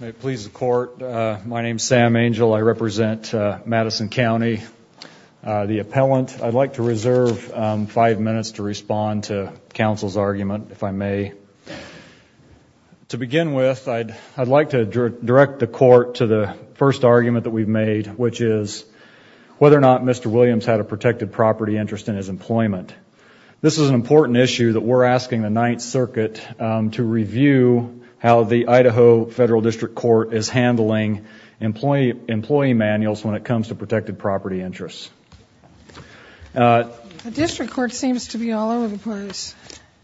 May it please the court, my name is Sam Angel, I represent Madison County. The appellant, I'd like to reserve five minutes to respond to counsel's argument, if I may. To begin with, I'd like to direct the court to the first argument that we've made, which is whether or not Mr. Williams had a protected property interest in his employment. This is an important issue that we're asking the Ninth Circuit to review how the Idaho Federal District Court is handling employee manuals when it comes to protected property interests. The district court seems to be all over the place.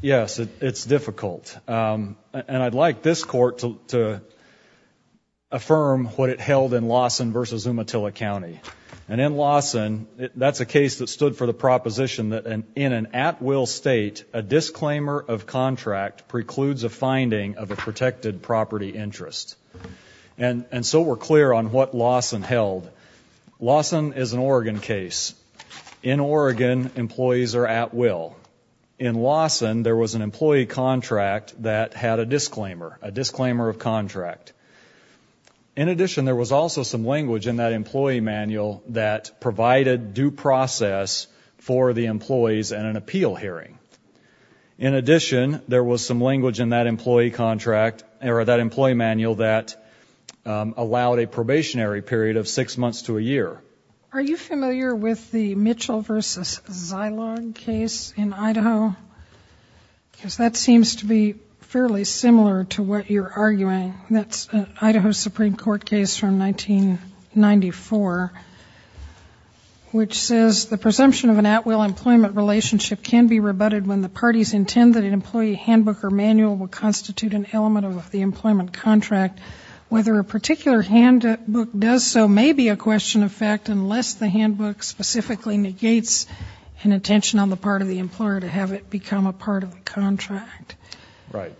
Yes, it's difficult. And I'd like this court to affirm what it held in Lawson v. Umatilla County. And in Lawson, that's a case that stood for the proposition that in an at-will state, a disclaimer of contract precludes a finding of a protected property interest. And so we're clear on what Lawson held. Lawson is an Oregon case. In Oregon, employees are at-will. In Lawson, there was an employee contract that had a disclaimer, a disclaimer of contract. In addition, there was also some language in that employee manual that provided due process for the employees in an appeal hearing. In addition, there was some language in that employee contract, or that employee manual, that allowed a probationary period of six months to a year. Are you familiar with the Mitchell v. Zilog case in Idaho? Because that seems to be fairly similar to what you're arguing. That's an Idaho Supreme Court case from 1994, which says the presumption of an at-will employment relationship can be rebutted when the parties intend that an employee handbook or manual will constitute an element of the employment contract. Whether a particular handbook does so may be a question of fact unless the handbook specifically negates an intention on the part of the employer to have it become a part of the contract. Right.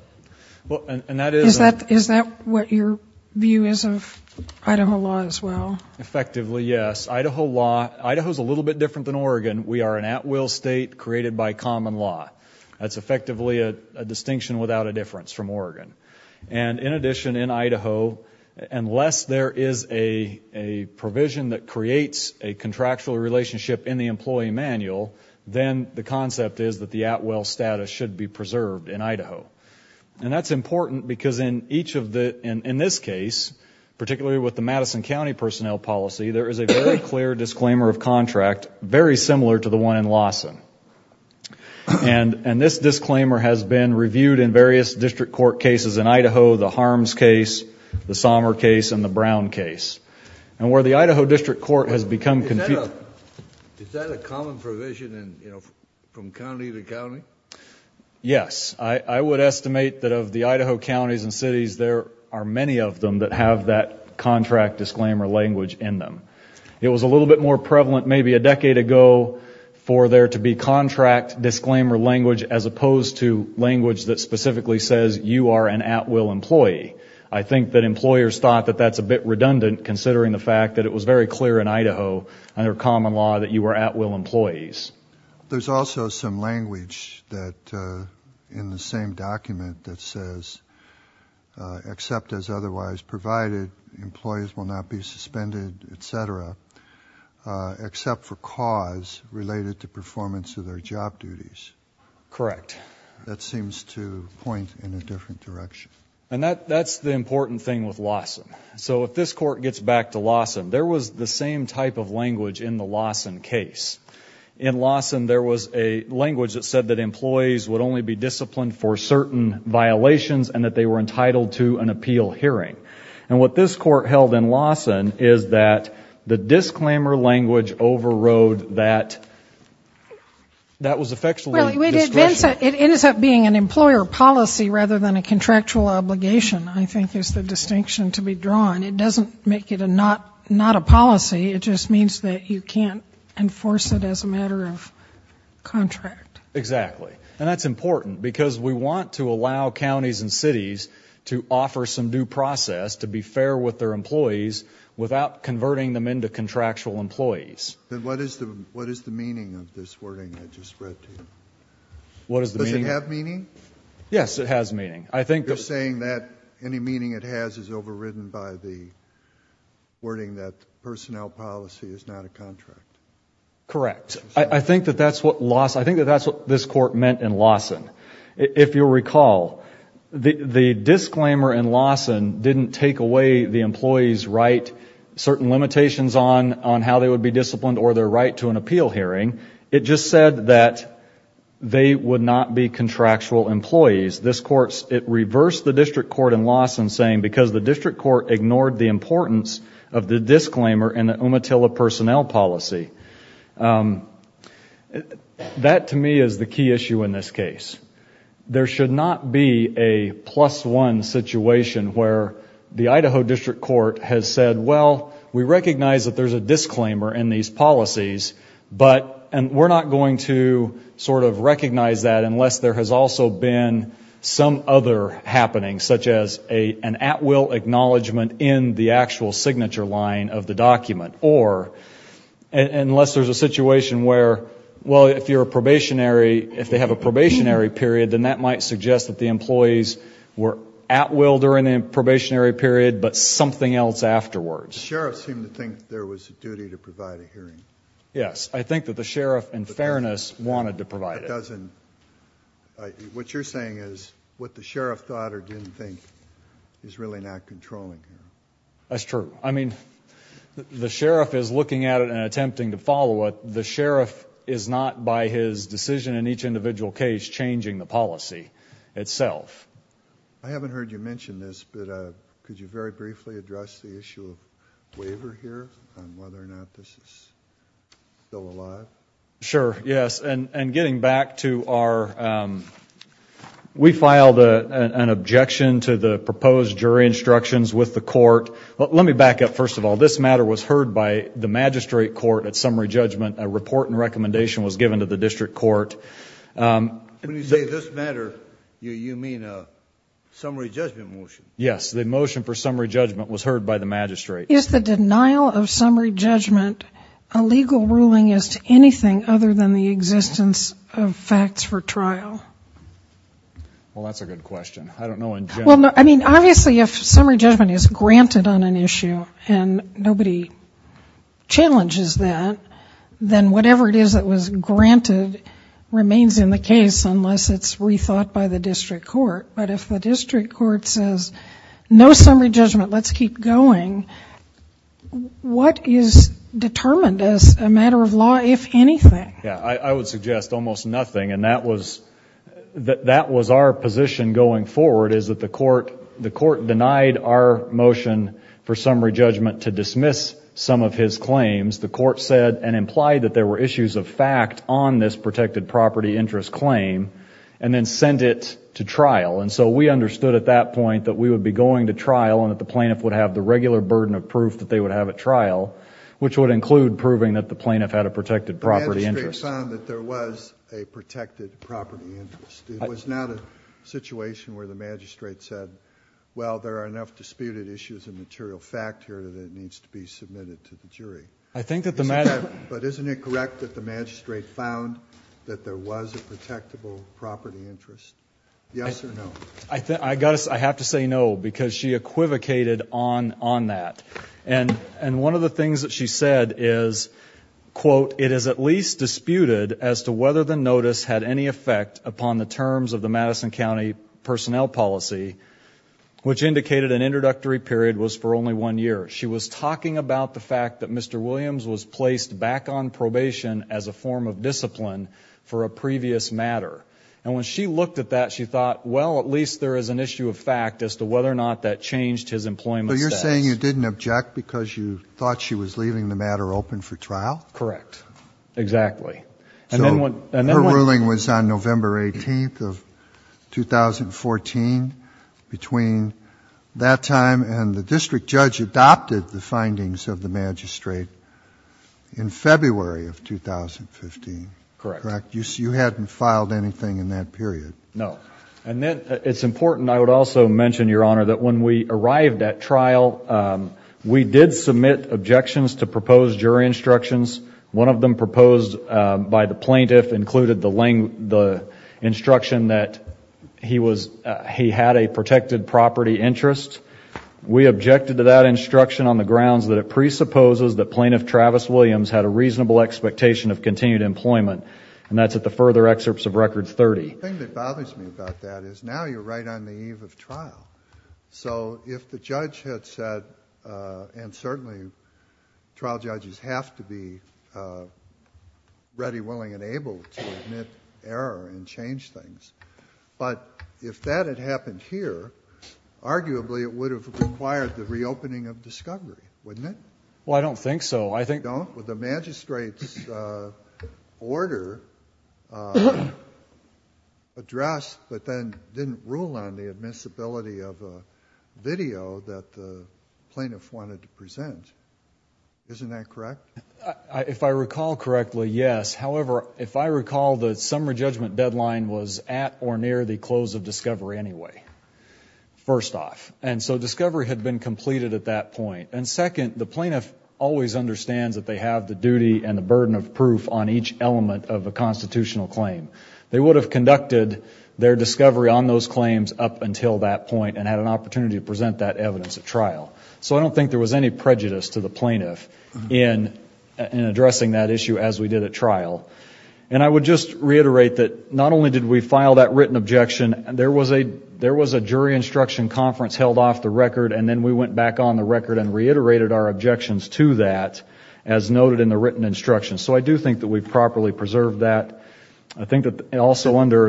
Is that what your view is of Idaho law as well? Effectively, yes. Idaho law, Idaho's a little bit different than Oregon. We are an at-will state created by common law. That's effectively a distinction without a difference from Oregon. In addition, in Idaho, unless there is a provision that creates a contractual relationship in the employee manual, then the concept is that the at-will status should be preserved in And that's important because in each of the, in this case, particularly with the Madison County personnel policy, there is a very clear disclaimer of contract, very similar to the one in Lawson. And this disclaimer has been reviewed in various district court cases in Idaho, the Harms case, the Sommer case, and the Brown case. And where the Idaho District Court has become confused. Is that a common provision from county to county? Yes. I would estimate that of the Idaho counties and cities, there are many of them that have that contract disclaimer language in them. It was a little bit more prevalent maybe a decade ago for there to be contract disclaimer language as opposed to language that specifically says you are an at-will employee. I think that employers thought that that's a bit redundant considering the fact that it was very clear in Idaho under common law that you were at-will employees. There's also some language that in the same document that says, except as otherwise provided, employees will not be suspended, etc. except for cause related to performance of their job duties. Correct. That seems to point in a different direction. And that's the important thing with Lawson. So if this court gets back to Lawson, there was the same type of language in the Lawson case. In Lawson, there was a language that said that employees would only be disciplined for certain violations and that they were entitled to an appeal hearing. And what this court held in Lawson is that the disclaimer language overrode that. That was effectively discretionary. Well, it ends up being an employer policy rather than a contractual obligation, I think is the distinction to be drawn. It doesn't make it not a policy. It just means that you can't enforce it as a matter of contract. Exactly. And that's important because we want to allow counties and cities to offer some due process to be fair with their employees without converting them into contractual employees. What is the meaning of this wording I just read to you? What is the meaning? Does it have meaning? Yes, it has meaning. You're saying that any meaning it has is overridden by the wording that personnel policy is not a contract. Correct. I think that that's what Lawson, I think that that's what this court meant in Lawson. If you'll recall, the disclaimer in Lawson didn't take away the employee's right, certain limitations on how they would be disciplined or their right to an appeal hearing. It just said that they would not be contractual employees. This court, it reversed the district court in Lawson saying because the district court ignored the importance of the disclaimer in the Umatilla personnel policy. That to me is the key issue in this case. There should not be a plus one situation where the Idaho district court has said, well, we recognize that there's a disclaimer in these policies, but, and we're not going to sort of recognize that unless there has also been some other happening, such as an at-will acknowledgment in the actual signature line of the document. Or unless there's a situation where, well, if you're a probationary, if they have a probationary period, then that might suggest that the employees were at-will during the probationary period, but something else afterwards. The sheriff seemed to think there was a duty to provide a hearing. Yes, I think that the sheriff in fairness wanted to provide it. What you're saying is what the sheriff thought or didn't think is really not controlling. That's true. I mean, the sheriff is looking at it and attempting to follow it. The sheriff is not, by his decision in each individual case, changing the policy itself. I haven't heard you mention this, but could you very briefly address the issue of waiver here on whether or not this is still alive? Sure, yes. And getting back to our, we filed an objection to the proposed jury instructions with the court. Let me back up, first of all. This matter was heard by the magistrate court at summary judgment. A report and recommendation was given to the district court. When you say this matter, you mean a summary judgment motion? Yes, the motion for summary judgment was heard by the magistrate. Is the denial of summary judgment a legal ruling as to anything other than the existence of facts for trial? Well, that's a good question. I don't know in general. Well, I mean, obviously if summary judgment is granted on an issue and nobody challenges that, then whatever it is that was granted remains in the case unless it's rethought by the district court. But if the district court says, no summary judgment, let's keep going, what is determined as a matter of law, if anything? Yeah, I would suggest almost nothing. And that was our position going forward, is that the court denied our motion for summary judgment to dismiss some of his claims. The court said and implied that there were issues of fact on this protected property interest claim and then sent it to trial. And so we understood at that point that we would be going to trial and that the plaintiff would have the regular burden of proof that they would have at trial, which would include proving that the plaintiff had a protected property interest. The magistrate found that there was a protected property interest. It was not a situation where the magistrate said, well, there are enough disputed issues I think that the magistrate... But isn't it correct that the magistrate found that there was a protectable property interest? Yes or no? I have to say no because she equivocated on that. And one of the things that she said is, quote, it is at least disputed as to whether the notice had any effect upon the terms of the Madison County personnel policy, which indicated an introductory period was for only one year. She was talking about the fact that Mr. Williams was placed back on probation as a form of discipline for a previous matter. And when she looked at that, she thought, well, at least there is an issue of fact as to whether or not that changed his employment status. So you're saying you didn't object because you thought she was leaving the matter open for trial? Correct. Exactly. And then what... It was on November 18th of 2014, between that time and the district judge adopted the findings of the magistrate in February of 2015, correct? Correct. You hadn't filed anything in that period? No. And then it's important, I would also mention, Your Honor, that when we arrived at trial, we did submit objections to proposed jury instructions. One of them proposed by the plaintiff included the instruction that he was, he had a protected property interest. We objected to that instruction on the grounds that it presupposes that Plaintiff Travis Williams had a reasonable expectation of continued employment, and that's at the further excerpts of Record 30. The thing that bothers me about that is now you're right on the eve of trial. So if the judge had said, and certainly trial judges have to be ready, willing, and able to admit error and change things, but if that had happened here, arguably it would have required the reopening of discovery, wouldn't it? Well, I don't think so. I think... The magistrate's order addressed, but then didn't rule on the admissibility of a video that the plaintiff wanted to present, isn't that correct? If I recall correctly, yes. However, if I recall, the summer judgment deadline was at or near the close of discovery anyway, first off. And so discovery had been completed at that point. And second, the plaintiff always understands that they have the duty and the burden of proof on each element of a constitutional claim. They would have conducted their discovery on those claims up until that point and had an opportunity to present that evidence at trial. So I don't think there was any prejudice to the plaintiff in addressing that issue as we did at trial. And I would just reiterate that not only did we file that written objection, there was a jury instruction conference held off the record, and then we went back on the record and reiterated our objections to that, as noted in the written instructions. So I do think that we properly preserved that. I think that also under...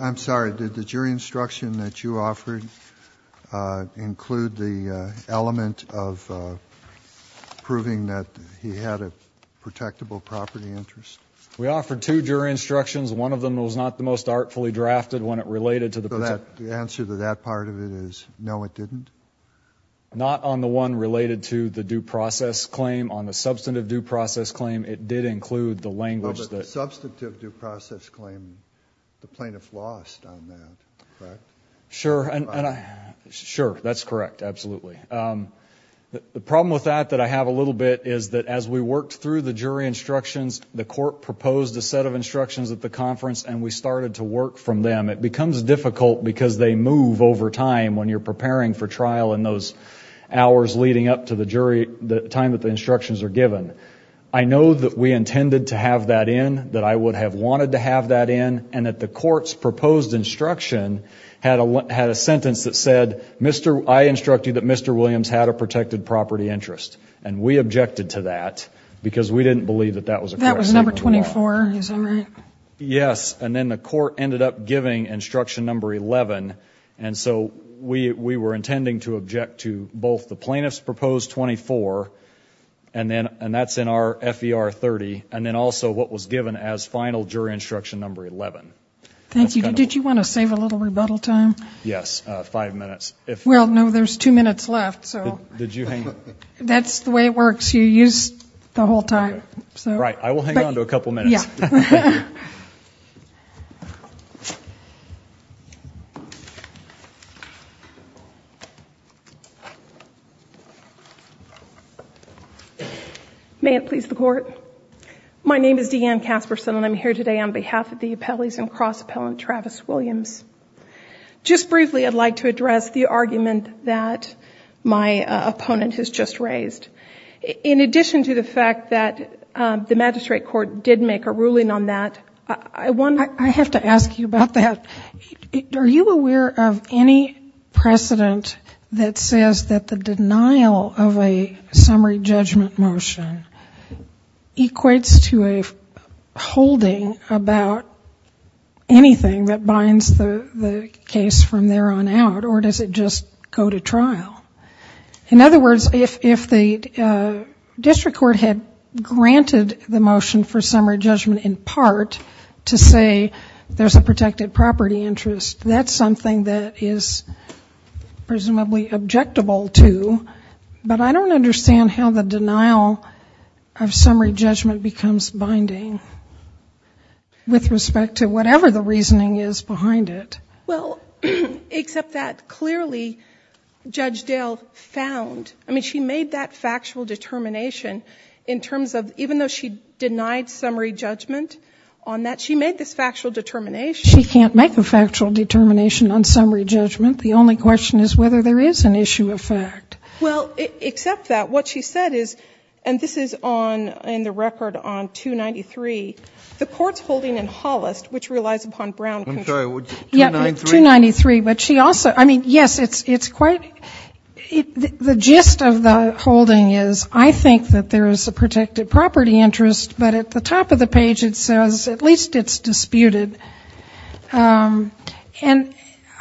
I'm sorry. Did the jury instruction that you offered include the element of proving that he had a protectable property interest? We offered two jury instructions. One of them was not the most artfully drafted when it related to the... So the answer to that part of it is, no, it didn't? Not on the one related to the due process claim. On the substantive due process claim, it did include the language that... But the substantive due process claim, the plaintiff lost on that, correct? Sure. And I... Sure. That's correct. Absolutely. The problem with that that I have a little bit is that as we worked through the jury instructions, the court proposed a set of instructions at the conference and we started to work from them. It becomes difficult because they move over time when you're preparing for trial in those hours leading up to the jury, the time that the instructions are given. I know that we intended to have that in, that I would have wanted to have that in, and that the court's proposed instruction had a sentence that said, I instructed that Mr. Williams had a protected property interest. And we objected to that because we didn't believe that that was a correct statement of law. That was number 24, is that right? Yes. And then the court ended up giving instruction number 11. And so we were intending to object to both the plaintiff's proposed 24, and that's in our FER 30, and then also what was given as final jury instruction number 11. Thank you. Did you want to save a little rebuttal time? Yes. Five minutes. Well, no. There's two minutes left, so... Did you hang... That's the way it works. You use the whole time, so... Right. I will hang on to a couple minutes. Yeah. May it please the court. My name is Deanne Casperson, and I'm here today on behalf of the appellees and cross-appellant Travis Williams. Just briefly, I'd like to address the argument that my opponent has just raised. In addition to the fact that the magistrate court did make a ruling on that, I wonder... I have to ask you about that. Are you aware of any precedent that says that the denial of a summary judgment motion equates to a holding about anything that binds the case from there on out, or does it just go to trial? In other words, if the district court had granted the motion for summary judgment in part to say there's a protected property interest, that's something that is presumably objectable to, but I don't understand how the denial of summary judgment becomes binding with respect to whatever the reasoning is behind it. Well, except that clearly Judge Dale found... She made that factual determination in terms of... Even though she denied summary judgment on that, she made this factual determination. She can't make a factual determination on summary judgment. The only question is whether there is an issue of fact. Well, except that, what she said is, and this is in the record on 293, the court's holding in Hollis, which relies upon Brown... I'm sorry. 293? Yeah, 293. But she also... I mean, yes, it's quite... The gist of the holding is, I think that there is a protected property interest, but at the top of the page it says, at least it's disputed. And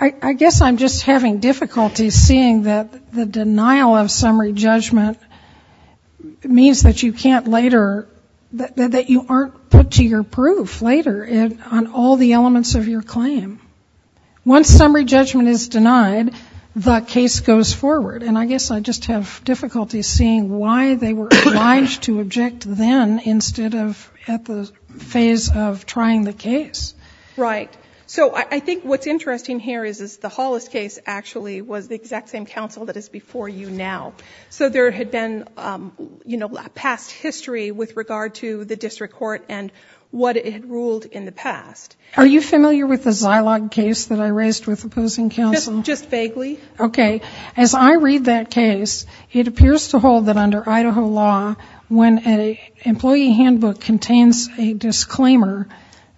I guess I'm just having difficulty seeing that the denial of summary judgment means that you can't later... That you aren't put to your proof later on all the elements of your claim. Once summary judgment is denied, the case goes forward. And I guess I just have difficulty seeing why they were obliged to object then instead of at the phase of trying the case. Right. So I think what's interesting here is the Hollis case actually was the exact same counsel that is before you now. So there had been past history with regard to the district court and what it had ruled in the past. Are you familiar with the Zilog case that I raised with opposing counsel? Just vaguely. Okay. As I read that case, it appears to hold that under Idaho law, when an employee handbook contains a disclaimer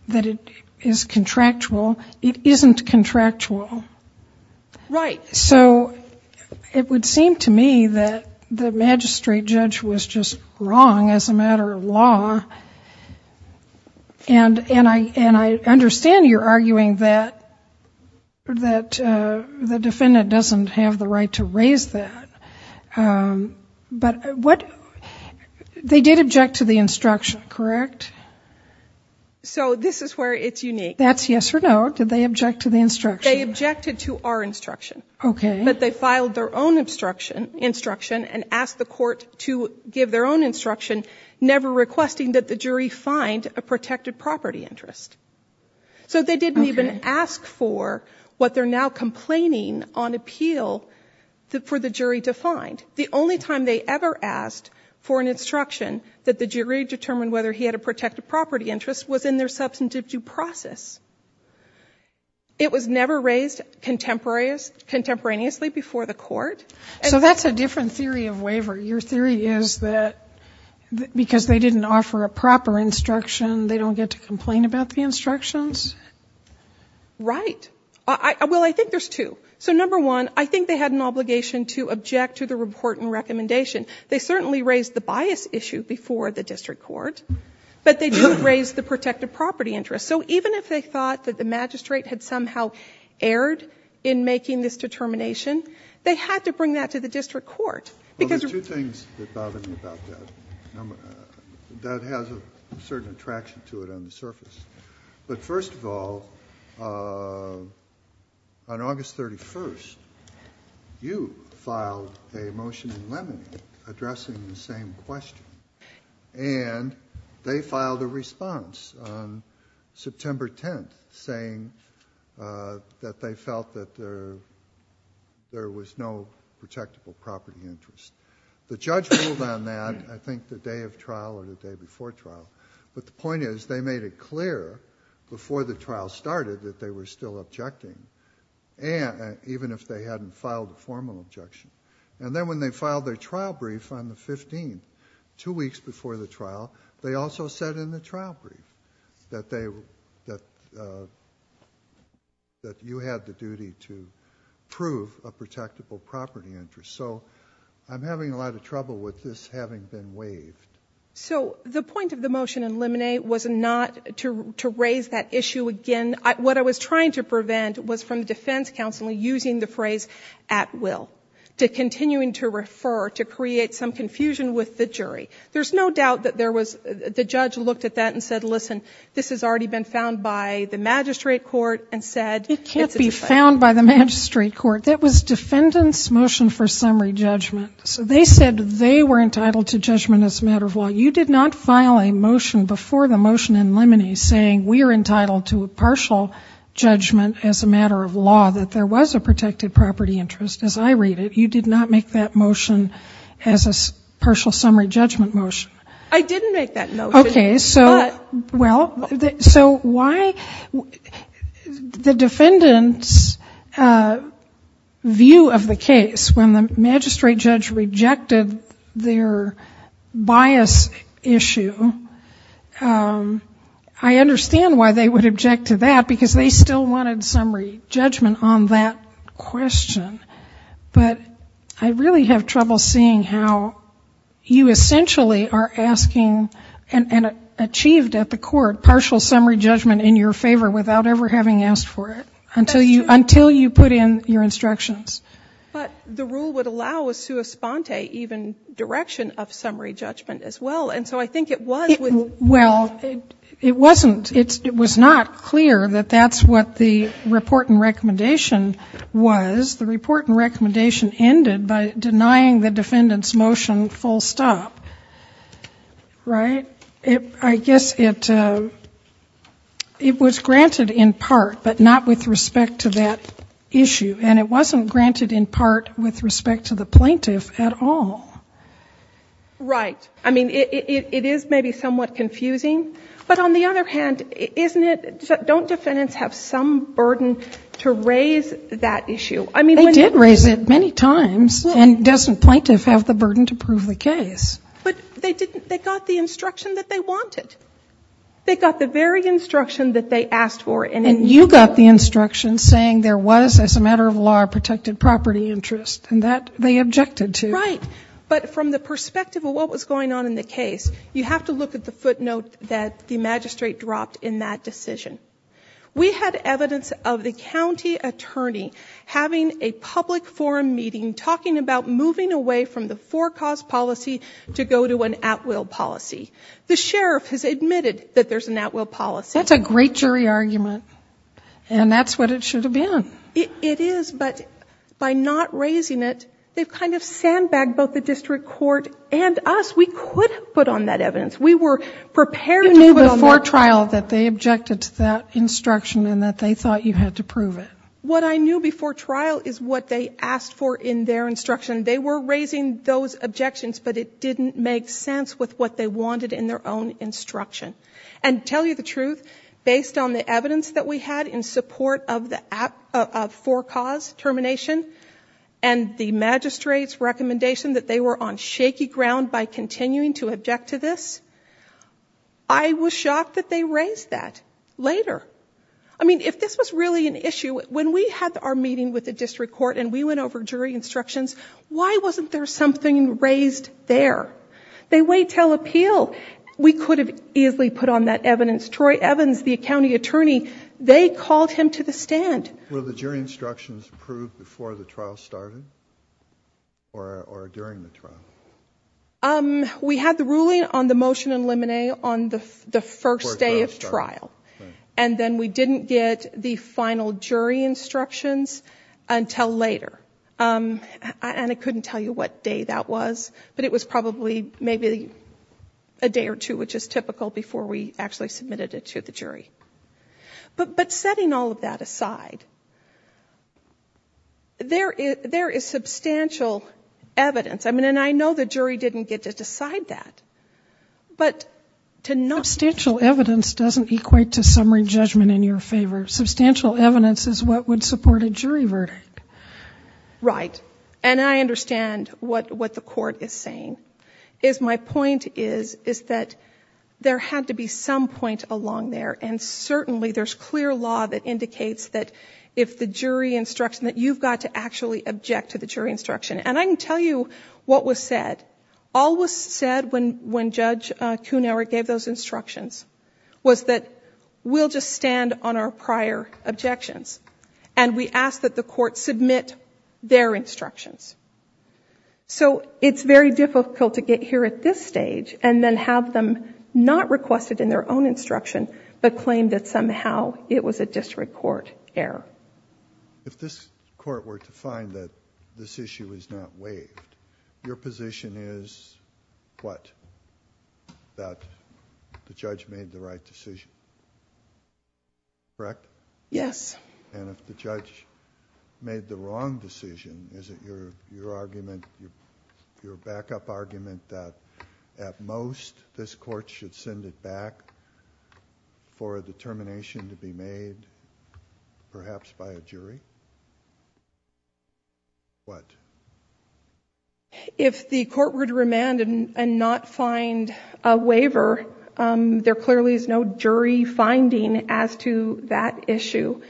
that it is contractual, it isn't contractual. Right. So it would seem to me that the magistrate judge was just wrong as a matter of law. And I understand you're arguing that the defendant doesn't have the right to raise that. But they did object to the instruction, correct? So this is where it's unique. That's yes or no. Did they object to the instruction? They objected to our instruction. Okay. But they filed their own instruction and asked the court to give their own instruction, never requesting that the jury find a protected property interest. So they didn't even ask for what they're now complaining on appeal for the jury to find. The only time they ever asked for an instruction that the jury determined whether he had a protected property interest was in their substantive due process. It was never raised contemporaneously before the court. So that's a different theory of waiver. Your theory is that because they didn't offer a proper instruction, they don't get to complain about the instructions? Right. Well, I think there's two. So number one, I think they had an obligation to object to the report and recommendation. They certainly raised the bias issue before the district court. But they didn't raise the protected property interest. So even if they thought that the magistrate had somehow erred in making this determination, they had to bring that to the district court. Well, there's two things that bother me about that. That has a certain attraction to it on the surface. But first of all, on August 31st, you filed a motion in Lemony addressing the same question. And they filed a response on September 10th saying that they felt that there was no protectable property interest. The judge ruled on that, I think, the day of trial or the day before trial. But the point is, they made it clear before the trial started that they were still objecting, even if they hadn't filed a formal objection. And then when they filed their trial brief on the 15th, two weeks before the trial, they also said in the trial brief that you had the duty to prove a protectable property interest. So I'm having a lot of trouble with this having been waived. So the point of the motion in Lemony was not to raise that issue again. And what I was trying to prevent was from the defense counsel using the phrase, at will, to continuing to refer to create some confusion with the jury. There's no doubt that the judge looked at that and said, listen, this has already been found by the magistrate court and said, it can't be found by the magistrate court. That was defendant's motion for summary judgment. So they said they were entitled to judgment as a matter of law. You did not file a motion before the motion in Lemony saying we are entitled to a partial judgment as a matter of law, that there was a protected property interest. As I read it, you did not make that motion as a partial summary judgment motion. I didn't make that motion. OK, so why the defendant's view of the case, when the magistrate judge rejected their bias issue, I understand why they would object to that, because they still wanted summary judgment on that question. But I really have trouble seeing how you essentially are asking and achieved at the court partial summary judgment in your favor without ever having asked for it until you put in your instructions. But the rule would allow a sua sponte even direction of summary judgment as well. And so I think it was with. Well, it wasn't. It was not clear that that's what the report and recommendation was. The report and recommendation ended by denying the defendant's motion full stop. Right? I guess it was granted in part, but not with respect to that issue. And it wasn't granted in part with respect to the plaintiff at all. Right. I mean, it is maybe somewhat confusing, but on the other hand, isn't it, don't defendants have some burden to raise that issue? I mean, they did raise it many times and doesn't plaintiff have the burden to prove the case, but they didn't. They got the instruction that they wanted. They got the very instruction that they asked for. And you got the instruction saying there was as a matter of law, protected property interest and that they objected to. Right. But from the perspective of what was going on in the case, you have to look at the footnote that the magistrate dropped in that decision. We had evidence of the county attorney having a public forum meeting talking about moving away from the four cause policy to go to an at will policy. The sheriff has admitted that there's an at will policy. That's a great jury argument. And that's what it should have been. It is. But by not raising it, they've kind of sandbagged both the district court and us. We could have put on that evidence. We were prepared to move it on that. You knew before trial that they objected to that instruction and that they thought you had to prove it. What I knew before trial is what they asked for in their instruction. They were raising those objections, but it didn't make sense with what they wanted in their own instruction. And to tell you the truth, based on the evidence that we had in support of four cause termination and the magistrate's recommendation that they were on shaky ground by continuing to object to this, I was shocked that they raised that later. I mean, if this was really an issue, when we had our meeting with the district court and we went over jury instructions, why wasn't there something raised there? They wait till appeal. We could have easily put on that evidence. Troy Evans, the county attorney, they called him to the stand. Were the jury instructions approved before the trial started or during the trial? We had the ruling on the motion in limine on the first day of trial. And then we didn't get the final jury instructions until later. And I couldn't tell you what day that was, but it was probably maybe a day or two, which is typical, before we actually submitted it to the jury. But setting all of that aside, there is substantial evidence. I mean, and I know the jury didn't get to decide that, but to not- Substantial evidence doesn't equate to summary judgment in your favor. Substantial evidence is what would support a jury verdict. Right. And I understand what the court is saying. Is my point is, is that there had to be some point along there. And certainly there's clear law that indicates that if the jury instruction, that you've got to actually object to the jury instruction. And I can tell you what was said. All was said when Judge Kuhnhauer gave those instructions was that we'll just stand on our prior objections. And we ask that the court submit their instructions. So it's very difficult to get here at this stage and then have them not requested in their own instruction, but claim that somehow it was a district court error. If this court were to find that this issue is not waived, your position is what, that the judge made the right decision? Correct? Yes. And if the judge made the wrong decision, is it your argument, your backup argument that at most this court should send it back for a determination to be made, perhaps by a jury? What? If the court were to remand and not find a waiver, there clearly is no jury finding as to that issue.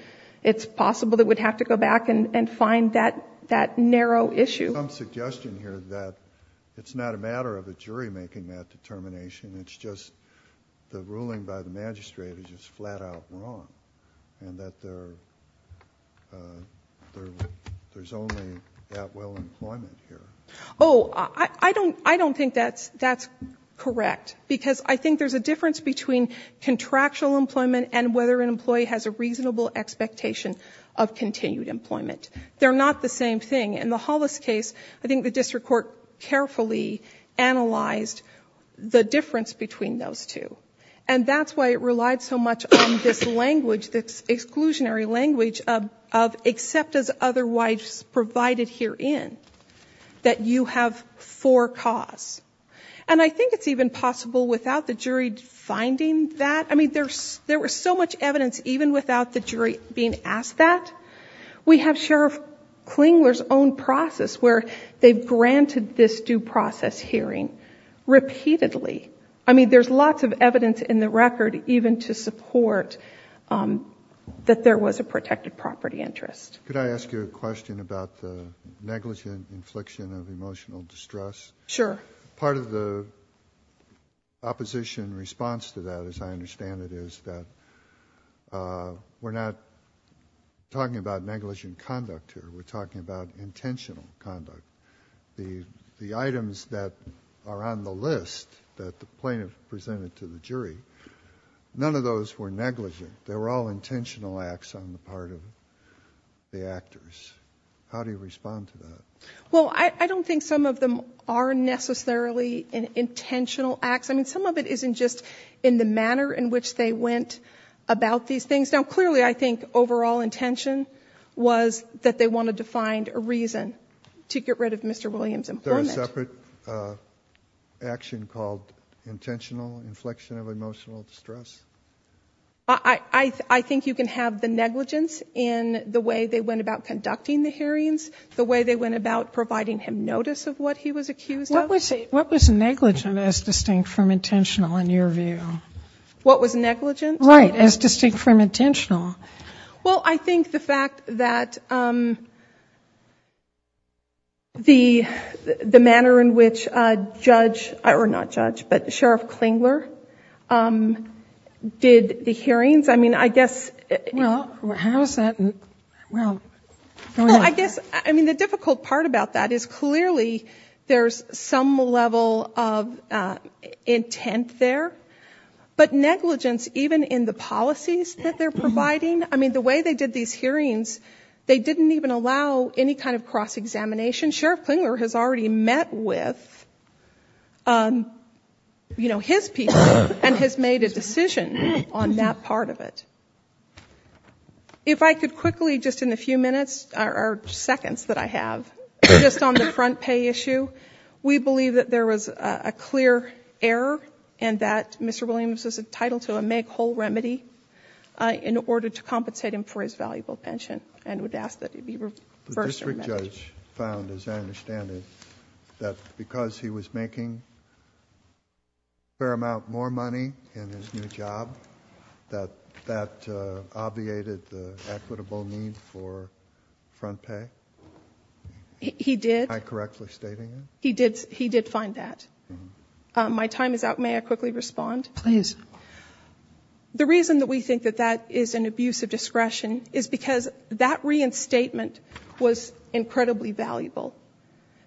It's possible that we'd have to go back and find that narrow issue. There's some suggestion here that it's not a matter of a jury making that determination. It's just the ruling by the magistrate is just flat out wrong. And that there's only that well employment here. I don't think that's correct. Because I think there's a difference between contractual employment and whether an employee has a reasonable expectation of continued employment. They're not the same thing. In the Hollis case, I think the district court carefully analyzed the difference between those two. And that's why it relied so much on this language, this exclusionary language of except as otherwise provided herein, that you have four costs. And I think it's even possible without the jury finding that. I mean, there was so much evidence even without the jury being asked that. We have Sheriff Klingler's own process where they've granted this due process hearing repeatedly. I mean, there's lots of evidence in the record, even to support that there was a protected property interest. Could I ask you a question about the negligent infliction of emotional distress? Sure. Part of the opposition response to that, as I understand it, is that we're not talking about negligent conduct here. We're talking about intentional conduct. The items that are on the list that the plaintiff presented to the jury, none of those were negligent. They were all intentional acts on the part of the actors. How do you respond to that? Well, I don't think some of them are necessarily intentional acts. I mean, some of it isn't just in the manner in which they went about these things. Now, clearly, I think overall intention was that they wanted to find a reason to get rid of Mr. Williams' employment. Is there a separate action called intentional inflection of emotional distress? I think you can have the negligence in the way they went about conducting the hearings, the way they went about providing him notice of what he was accused of. What was negligent as distinct from intentional in your view? What was negligent? Right, as distinct from intentional. Well, I think the fact that the manner in which Judge, or not Judge, but Sheriff Klingler did the hearings. I mean, I guess- Well, how is that? Well, go ahead. I guess, I mean, the difficult part about that is clearly there's some level of intent there. But negligence, even in the policies that they're providing. I mean, the way they did these hearings, they didn't even allow any kind of cross-examination. Sheriff Klingler has already met with his people and has made a decision on that part of it. If I could quickly, just in the few minutes, or seconds that I have, just on the front pay issue. We believe that there was a clear error and that Mr. Williams was entitled to a make-whole remedy in order to compensate him for his valuable pension and would ask that he be reversed. The district judge found, as I understand it, that because he was making a fair amount more money in his new job, that that obviated the equitable need for front pay? He did. Am I correctly stating that? He did find that. My time is out. May I quickly respond? Please. The reason that we think that that is an abuse of discretion is because that reinstatement was incredibly valuable.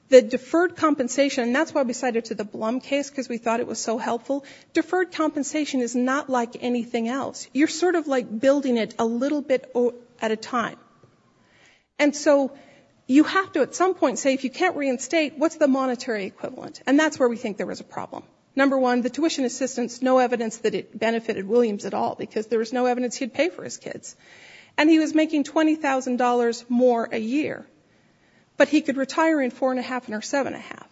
The deferred compensation, and that's why we cited it to the Blum case because we thought it was so helpful. Deferred compensation is not like anything else. You're sort of like building it a little bit at a time. And so you have to at some point say if you can't reinstate, what's the monetary equivalent? And that's where we think there was a problem. Number one, the tuition assistance, no evidence that it benefited Williams at all because there was no evidence he'd pay for his kids. And he was making $20,000 more a year, but he could retire in four and a half and seven and a half.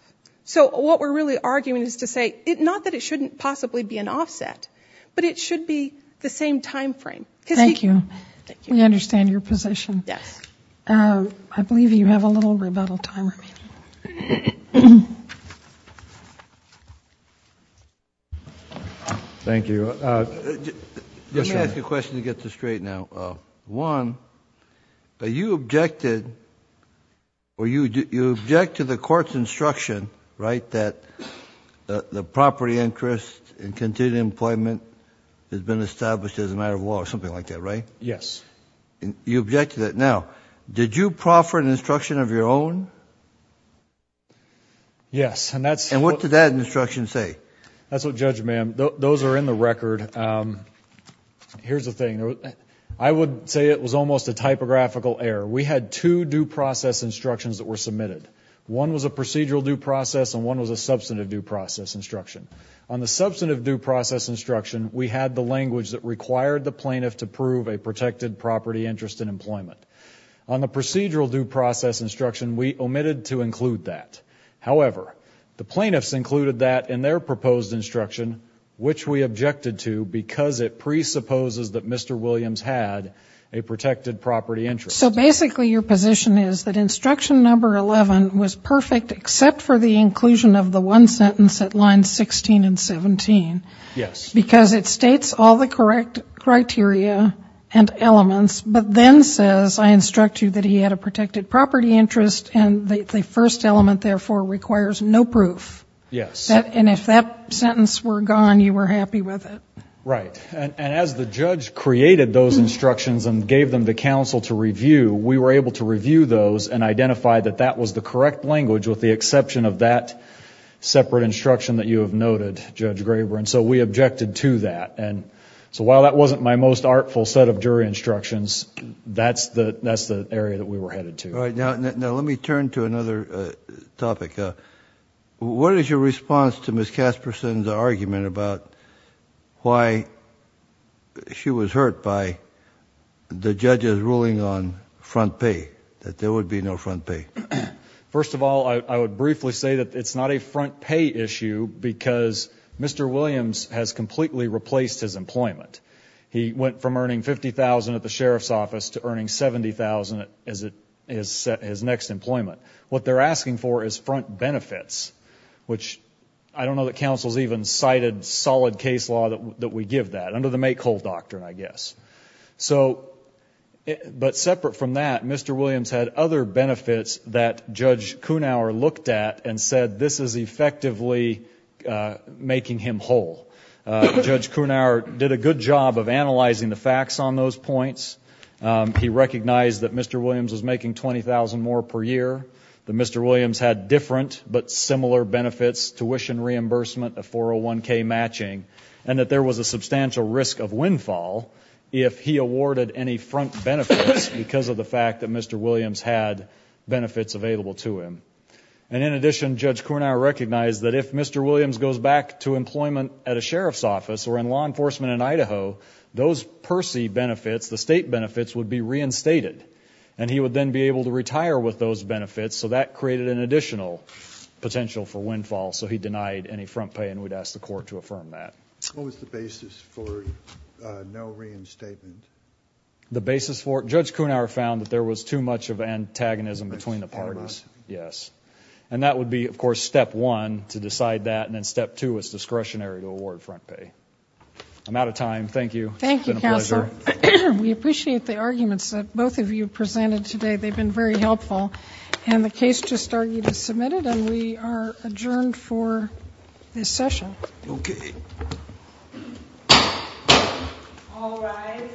So what we're really arguing is to say not that it shouldn't possibly be an offset, but it should be the same timeframe. Thank you. Thank you. We understand your position. Yes. I believe you have a little rebuttal time remaining. Thank you. Let me ask you a question to get this straight now. One, you objected to the court's instruction, right, that the property interest in continued employment has been established as a matter of law or something like that, right? Yes. You objected to that. Now, did you proffer an instruction of your own? Yes. And what did that instruction say? Here's the thing. I would say it was almost a typographical error. We had two due process instructions that were submitted. One was a procedural due process and one was a substantive due process instruction. On the substantive due process instruction, we had the language that required the plaintiff to prove a protected property interest in employment. On the procedural due process instruction, we omitted to include that. However, the plaintiffs included that in their proposed instruction, which we objected to because it presupposes that Mr. Williams had a protected property interest. So basically your position is that instruction number 11 was perfect except for the inclusion of the one sentence at lines 16 and 17. Yes. Because it states all the correct criteria and elements, but then says, I instruct you that he had a protected property interest, and the first element, therefore, requires no proof. Yes. And if that sentence were gone, you were happy with it. Right. And as the judge created those instructions and gave them to counsel to review, we were able to review those and identify that that was the correct language with the exception of that separate instruction that you have noted, Judge Graber. And so we objected to that. And so while that wasn't my most artful set of jury instructions, that's the area that we were headed to. All right. Now let me turn to another topic. What is your response to Ms. Casperson's argument about why she was hurt by the judge's ruling on front pay, that there would be no front pay? First of all, I would briefly say that it's not a front pay issue because Mr. Williams has completely replaced his employment. He went from earning $50,000 at the sheriff's office to earning $70,000 at his next employment. What they're asking for is front benefits, which I don't know that counsel has even cited solid case law that we give that, under the make-whole doctrine, I guess. But separate from that, Mr. Williams had other benefits that Judge Kunauer looked at and said this is effectively making him whole. Judge Kunauer did a good job of analyzing the facts on those points. He recognized that Mr. Williams was making $20,000 more per year, that Mr. Williams had different but similar benefits, tuition reimbursement, a 401k matching, and that there was a substantial risk of windfall if he awarded any front benefits because of the fact that Mr. Williams had benefits available to him. And in addition, Judge Kunauer recognized that if Mr. Williams goes back to employment at a sheriff's office or in law enforcement in Idaho, those PERSI benefits, the state benefits, would be reinstated, and he would then be able to retire with those benefits. So that created an additional potential for windfall. So he denied any front pay, and we'd ask the court to affirm that. What was the basis for no reinstatement? The basis for it? Judge Kunauer found that there was too much of antagonism between the parties. And that would be, of course, step one to decide that, and then step two is discretionary to award front pay. I'm out of time. Thank you. Thank you, Counselor. It's been a pleasure. We appreciate the arguments that both of you presented today. They've been very helpful. And the case just argued is submitted, and we are adjourned for this session. Okay. All rise.